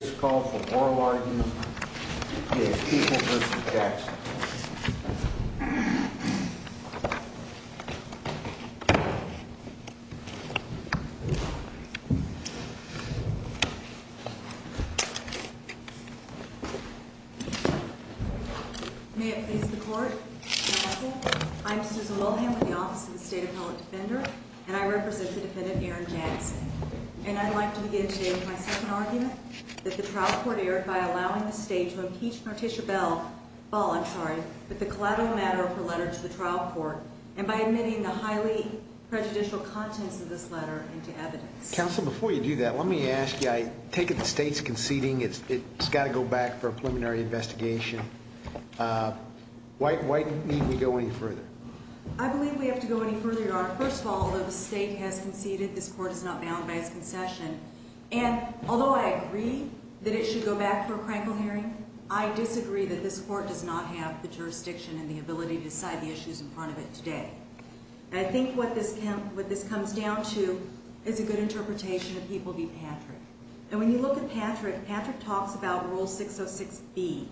is called for moral argument against people v. Jackson. May it please the court. I'm Susan Wilhelm with the Office of the State Appellate Defender, and I represent the defendant, Aaron Jackson. And I'd like to begin today with my second argument, that the trial court erred by allowing the state to impeach Morticia Bell voluntary with the collateral matter of her letter to the trial court and by admitting the highly prejudicial contents of this letter into evidence. Counsel, before you do that, let me ask you, I take it the state's conceding. It's got to go back for a preliminary investigation. Uh, why do we need to go any further? I believe we have to go any further, Your Honor. First of all, although the state has conceded this concession, and although I agree that it should go back for a crankle hearing, I disagree that this court does not have the jurisdiction and the ability to decide the issues in front of it today. I think what this what this comes down to is a good interpretation of people v. Patrick. And when you look at Patrick, Patrick talks about Rule 606 B,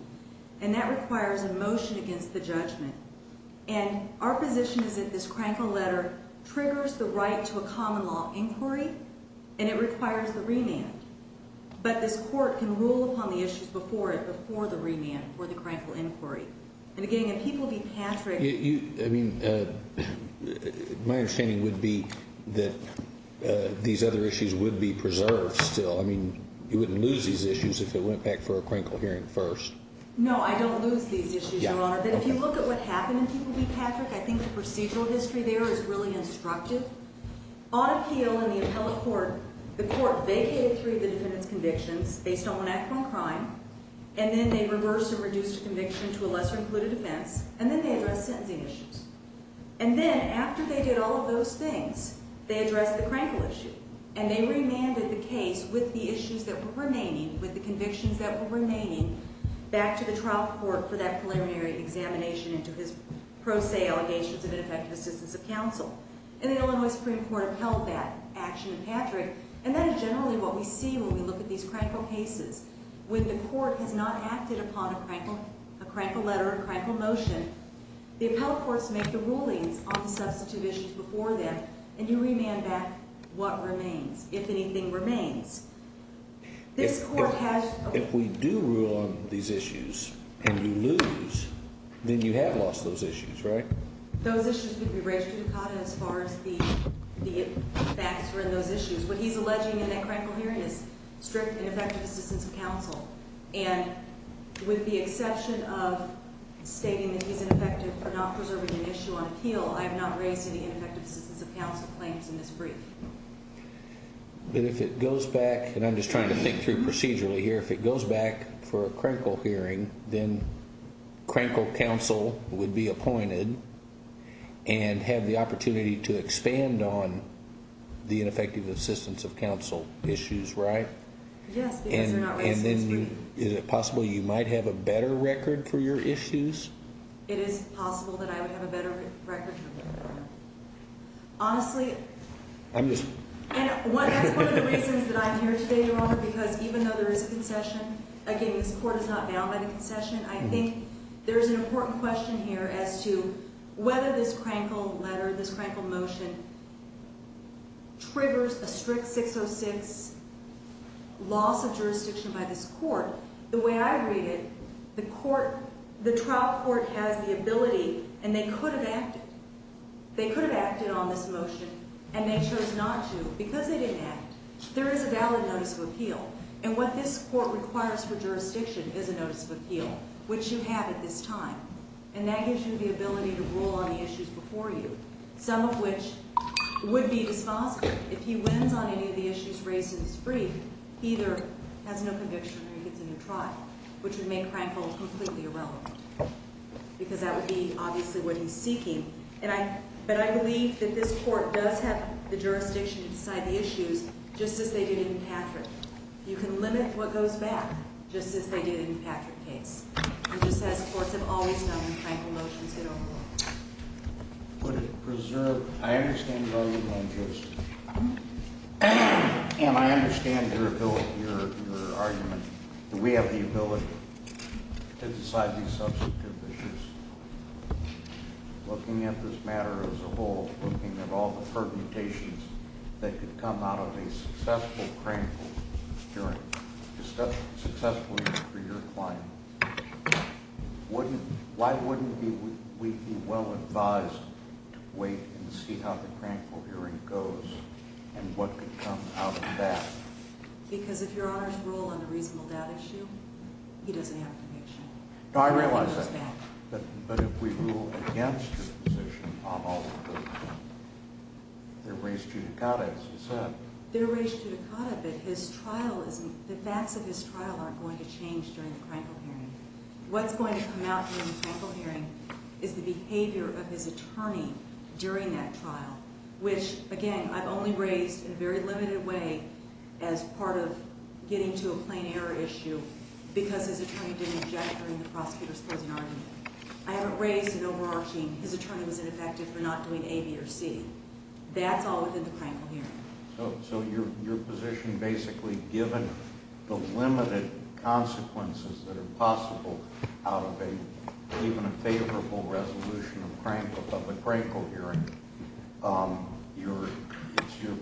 and that requires a motion against the judgment. And our position is that this crankle letter triggers the right to a common law inquiry, and it requires the remand. But this court can rule upon the issues before it before the remand for the crankle inquiry. And again, if people be Patrick, I mean, uh, my understanding would be that these other issues would be preserved still. I mean, you wouldn't lose these issues if it went back for a crankle hearing first. No, I don't lose these issues, Your Honor. But if you look at what is really instructive on appeal in the appellate court, the court vacated three of the defendant's convictions based on one act of crime, and then they reversed and reduced conviction to a lesser included offense. And then they address sentencing issues. And then after they did all of those things, they addressed the crankle issue, and they remanded the case with the issues that were remaining with the convictions that were remaining back to the trial court for that preliminary examination into his pro se allegations of ineffective assistance of counsel. And the Illinois Supreme Court upheld that action in Patrick. And that is generally what we see when we look at these crankle cases. When the court has not acted upon a crankle, a crankle letter, a crankle motion, the appellate courts make the rulings on the substantive issues before them, and you remand back what remains if anything remains. This court has. If we do rule on these issues and you lose, then you have lost those issues, right? Those issues could be raised as far as the facts were in those issues. What he's alleging in that crankle hearing is strict, ineffective assistance of counsel. And with the exception of stating that he's ineffective for not preserving an issue on appeal, I have not raised any ineffective assistance of counsel claims in this brief. But if it goes back, and I'm just trying to think through procedurally here. If it goes back for a critical hearing, then crankle counsel would be appointed and have the opportunity to expand on the ineffective assistance of counsel issues, right? Yes. And then is it possible you might have a better record for your issues? It is possible that I would have a better record. Honestly, I'm just one. That's one of the reasons that I'm here today, because even though there is a concession, again, this court is not bound by the concession. I think there is an important question here as to whether this crankle letter, this crankle motion triggers a strict 606 loss of jurisdiction by this court. The way I read it, the court, the trial court has the ability and they could have acted. They could have acted on this motion, and they chose not to because they didn't act. There is a valid notice of appeal, and what this court requires for jurisdiction is a notice of appeal, which you have at this time, and that gives you the ability to rule on the issues before you, some of which would be dispositive. If he wins on any of the issues raised in this brief, he either has no conviction or he gets a new trial, which would make crankle completely irrelevant, because that would be obviously what he's seeking. But I believe that this court does have the jurisdiction inside the issues just as they did in Patrick. You can limit what goes back just as they did in Patrick case. It just says courts have always known when crankle motions get overruled. Would it preserve? I understand your argument, Justice. And I understand your ability, your argument that we have the ability to decide these substantive issues. Looking at this matter as a whole, looking at all the permutations that could come out of a successful crankle hearing, successfully for your client, why wouldn't we be well advised to wait and see how the crankle hearing goes and what could come out of that? Because if your Honor's rule on the reasonable doubt issue, he doesn't have a conviction. No, I realize that. But if we rule against your position on all of those, they're raised judicata, as you said. They're raised judicata, but his trial isn't, the facts of his trial aren't going to change during the crankle hearing. What's going to come out during the crankle hearing is the behavior of his attorney during that trial, which, again, I've only raised in a very limited way as part of getting to a plain error issue, because his attorney didn't object during the prosecutor's closing argument. I haven't raised an overarching, his attorney was ineffective for not doing A, B, or C. That's all within the crankle hearing. So your position basically, given the limited consequences that are possible out of even a favorable resolution of the crankle hearing, it's your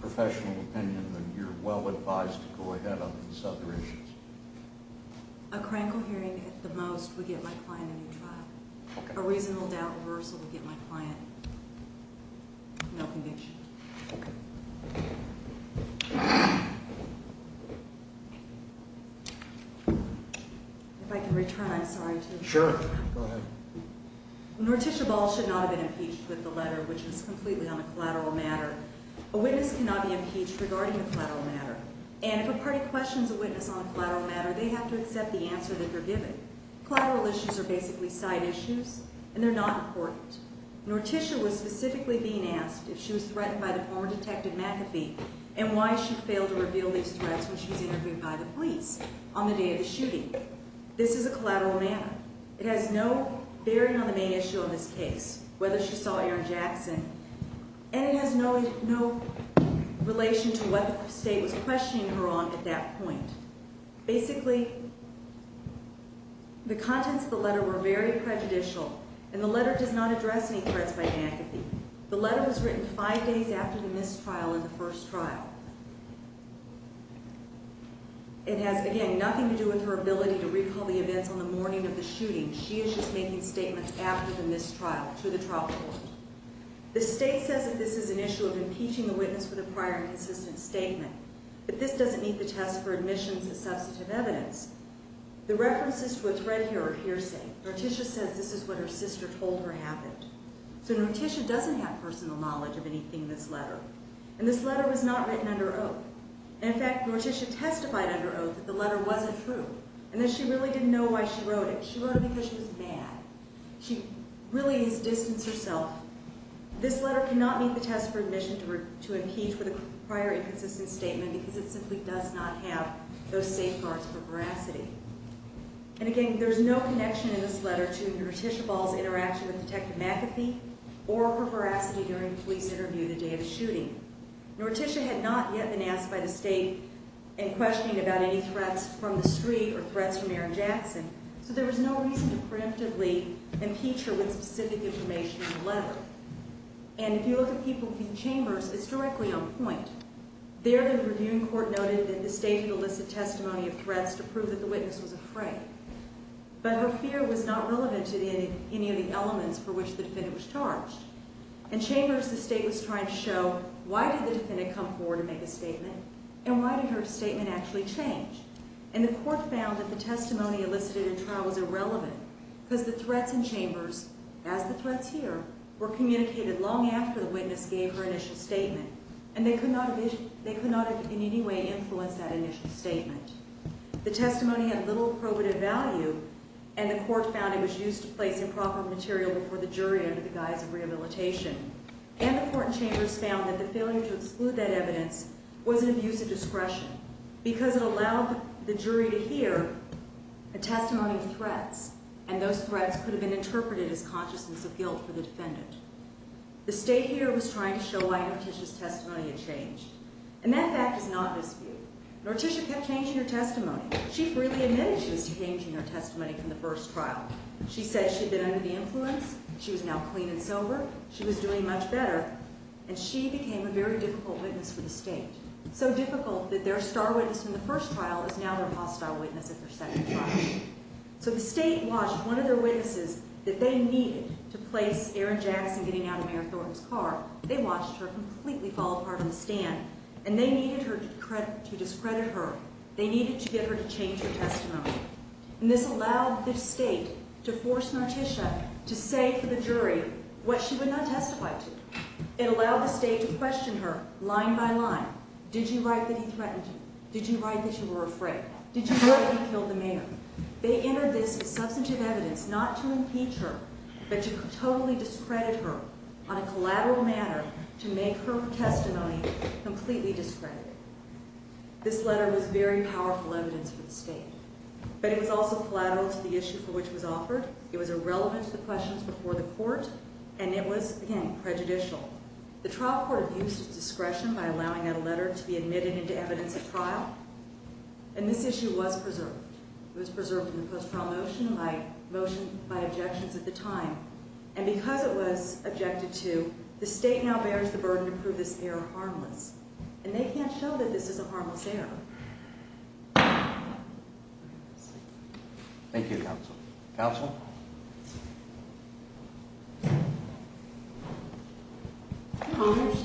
professional opinion that you're well advised to go ahead on these other issues. A crankle hearing, at the most, would get my client a new trial. A reasonable doubt reversal would get my client no conviction. If I can return, I'm sorry to interrupt. Sure, go ahead. Norticia Ball should not have been impeached with the letter, which is completely on a collateral matter. A witness cannot be impeached regarding a collateral matter. And if a party questions a witness on a collateral matter, they have to accept the answer they're given. Collateral issues are basically side issues, and they're not important. Norticia was specifically being asked if she was threatened by the former Detective McAfee, and why she failed to reveal these threats when she was interviewed by the police on the day of the shooting. This is a collateral matter. It has no bearing on the main issue of this case, whether she saw Aaron Jackson, and it has no relation to what the state was questioning her on at that point. Basically, the contents of the letter were very prejudicial, and the letter does not address any threats by McAfee. The letter was written five days after the mistrial in the first trial. It has, again, nothing to do with her ability to recall the events on the morning of the shooting. She is just making statements after the mistrial to the trial court. The state says that this is an issue of impeaching a witness for the prior inconsistent statement, but this doesn't meet the test for admissions as substantive evidence. The references to a threat here are hearsay. Norticia says this is what her sister told her happened. So Norticia doesn't have personal knowledge of anything in this letter, and this letter was not written under oath. In fact, Norticia testified under oath that the letter wasn't true, and that she really didn't know why she wrote it. She wrote it because she was mad. She really has distanced herself. This letter cannot meet the test for admission to impeach for the prior inconsistent statement because it simply does not have those safeguards for veracity. And again, there's no connection in this letter to Norticia Ball's interaction with Detective McAfee or her veracity during the police interview the day of the shooting. Norticia had not yet been asked by the state in questioning about any threats from the street or threats from Aaron Jackson, so there was no reason to preemptively impeach her with specific information in the letter. And if you look at people in Chambers, it's directly on point. There, the reviewing court noted that the state did elicit testimony of threats to prove that the witness was afraid. But her fear was not relevant to any of the elements for which the defendant was charged. In Chambers, the state was trying to show why did the defendant come forward to make a statement, and why did her statement actually change? And the court found that the testimony elicited in trial was irrelevant because the threats in Chambers, as the threats here, were communicated long after the witness gave her initial statement, and they could not in any way influence that initial statement. The testimony had little probative value, and the court found it was used to place improper material before the jury under the guise of rehabilitation. And the court in Chambers found that the failure to exclude that evidence was an abuse of discretion because it allowed the jury to hear a testimony of threats, and those threats could have been interpreted as consciousness of guilt for the defendant. The state here was trying to show why Norticia's testimony had changed. And that fact is not in dispute. Norticia kept changing her testimony. She freely admitted she was changing her testimony from the first trial. She said she'd been under the influence, she was now clean and sober, she was doing much better, and she became a very difficult witness for the state. So difficult that their star witness in the first trial is now their hostile witness at their second trial. So the state watched one of their witnesses that they needed to place Aaron Jackson getting out of Mayor Thornton's car, they watched her completely fall apart on the stand, and they needed her to discredit her. They needed to get her to change her testimony. And this allowed the state to force Norticia to say to the jury what she would not testify to. It allowed the state to question her line by line. Did you write that he threatened you? Did you write that you were afraid? Did you write that he killed the mayor? They entered this as substantive evidence not to impeach her, but to totally discredit her on a collateral manner to make her testimony completely discredited. This letter was very powerful evidence for the state. But it was also collateral to the issue for which it was offered. It was irrelevant to the questions before the court, and it was, again, prejudicial. The trial court abused its discretion by allowing that letter to be admitted into evidence at trial, and this issue was preserved. It was preserved in the post-trial motion by objections at the time. And because it was objected to, the state now bears the burden to prove this error harmless, and they can't show that this is a harmless error. Thank you, counsel. Counsel?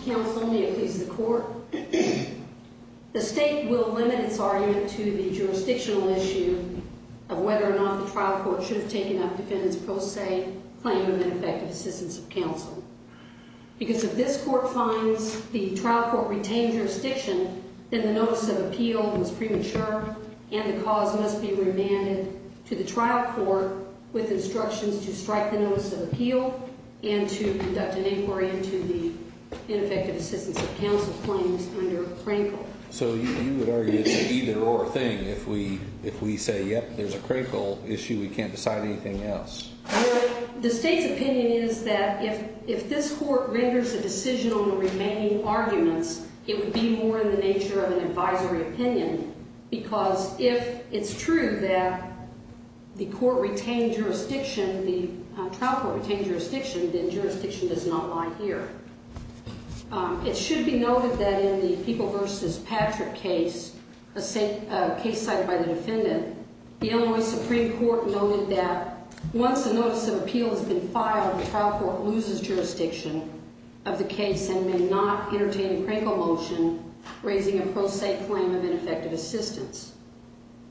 Counsel, may it please the court. The state will limit its argument to the jurisdictional issue of whether or not the trial court should have taken up defendant's pro se claim of ineffective assistance of counsel. Because if this court finds the trial court retained jurisdiction, then the notice of appeal was premature, and the cause must be remanded to the trial court with instructions to strike the notice of appeal and to conduct an inquiry into the ineffective assistance of counsel claims under Crankle. So you would argue it's an either-or thing. If we say, yep, there's a Crankle issue, we can't decide anything else. Well, the state's opinion is that if this court renders a decision on the remaining arguments, it would be more in the nature of an advisory opinion, because if it's true that the court retained jurisdiction, the trial court retained jurisdiction, then jurisdiction does not lie here. It should be noted that in the People v. Patrick case, a case cited by the defendant, the Illinois Supreme Court noted that once a notice of appeal has been filed, the trial court loses jurisdiction of the case and may not entertain a Crankle motion raising a pro se claim of ineffective assistance.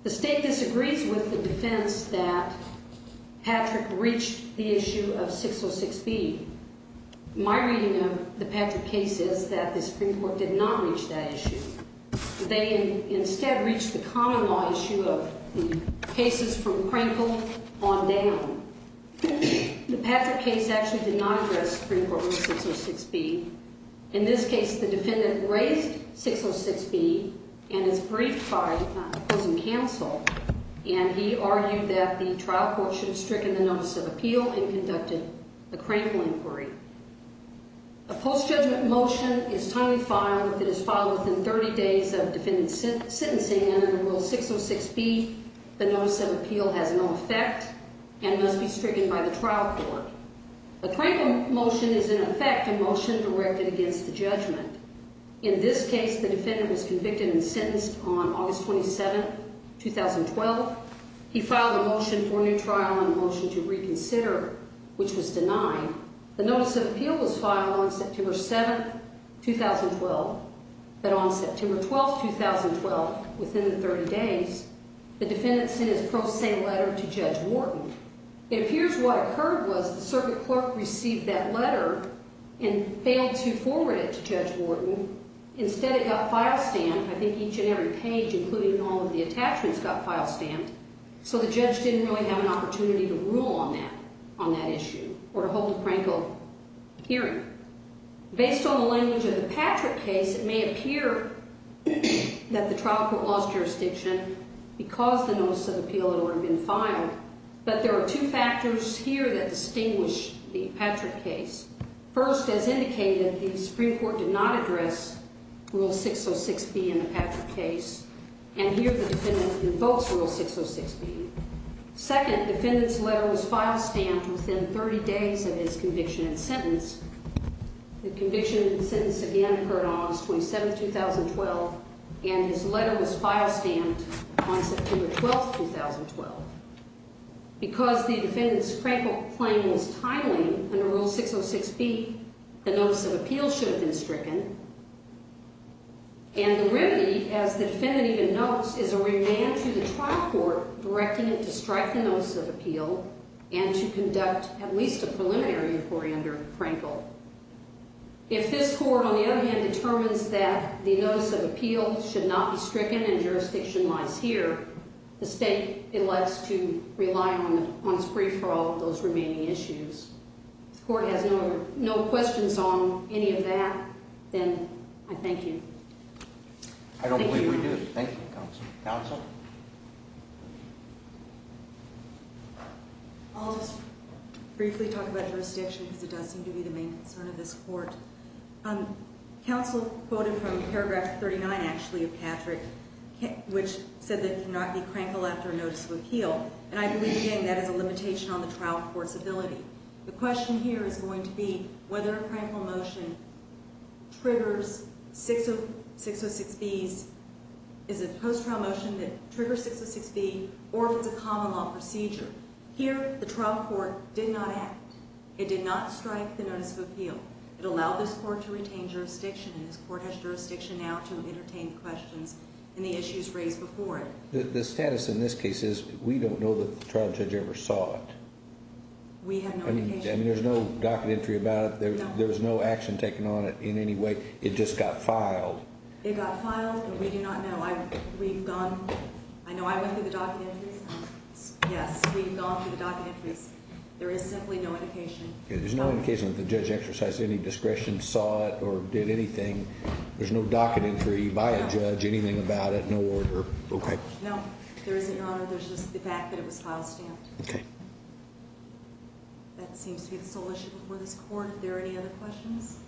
The state disagrees with the defense that Patrick reached the issue of 606B. My reading of the Patrick case is that the Supreme Court did not reach that issue. They instead reached the common law issue of cases from Crankle on down. The Patrick case actually did not address Supreme Court Rule 606B. In this case, the defendant raised 606B and is briefed by opposing counsel, and he argued that the trial court should have stricken the notice of appeal and conducted a Crankle inquiry. A post-judgment motion is timely filed if it is filed within 30 days of defendant's sentencing and under Rule 606B, the notice of appeal has no effect and must be stricken by the trial court. A Crankle motion is, in effect, a motion directed against the judgment. In this case, the defendant was convicted and sentenced on August 27, 2012. He filed a motion for a new trial and a motion to reconsider, which was denied. The notice of appeal was filed on September 7, 2012, but on September 12, 2012, within 30 days, the defendant sent his pro se letter to Judge Wharton. It appears what occurred was the circuit clerk received that letter and failed to forward it to Judge Wharton. Instead, it got file-stamped. I think each and every page, including all of the attachments, got file-stamped, so the judge didn't really have an opportunity to rule on that issue or to hold a Crankle hearing. Based on the language of the Patrick case, it may appear that the trial court lost jurisdiction because the notice of appeal had already been filed, but there are two factors here that distinguish the Patrick case. First, as indicated, the Supreme Court did not address Rule 606B in the Patrick case, and here the defendant invokes Rule 606B. Second, the defendant's letter was file-stamped within 30 days of his conviction and sentence. The conviction and sentence again occurred on August 27, 2012, and his letter was file-stamped on September 12, 2012. Because the defendant's Crankle claim was timely under Rule 606B, the notice of appeal should have been stricken, and the remedy, as the defendant even notes, is a remand to the trial court directing it to strike the notice of appeal and to conduct at least a preliminary inquiry under Crankle. If this court, on the other hand, determines that the notice of appeal should not be stricken and jurisdiction lies here, the state elects to rely on its brief for all of those remaining issues. If the court has no questions on any of that, then I thank you. I don't believe we do. Thank you, Counsel. Counsel? I'll just briefly talk about jurisdiction because it does seem to be the main concern of this court. Counsel quoted from paragraph 39, actually, of Patrick, which said that it cannot be Crankle after a notice of appeal, and I believe, again, that is a limitation on the trial court's ability. The question here is going to be whether a Crankle motion triggers 606B, is a post-trial motion that triggers 606B, or if it's a common law procedure. Here, the trial court did not act. It did not strike the notice of appeal. It allowed this court to retain jurisdiction, and this court has jurisdiction now to entertain questions in the issues raised before it. The status in this case is we don't know that the trial judge ever saw it. We have no indication. I mean, there's no docket entry about it. There was no action taken on it in any way. It just got filed. It got filed, but we do not know. I know I went through the docket entries. Yes, we've gone through the docket entries. There is simply no indication. There's no indication that the judge exercised any discretion, saw it, or did anything. There's no docket entry by a judge, anything about it, no order. Okay. No, there isn't, Your Honor. There's just the fact that it was file stamped. Okay. That seems to be the sole issue before this court. Are there any other questions?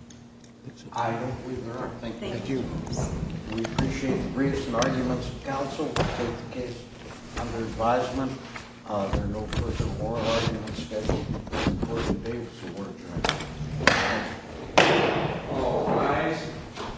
I don't believe there are. Thank you. Thank you. We appreciate the briefs and arguments of counsel. The case is under advisement. There are no further oral arguments scheduled. Court is adjourned. Thank you. All rise.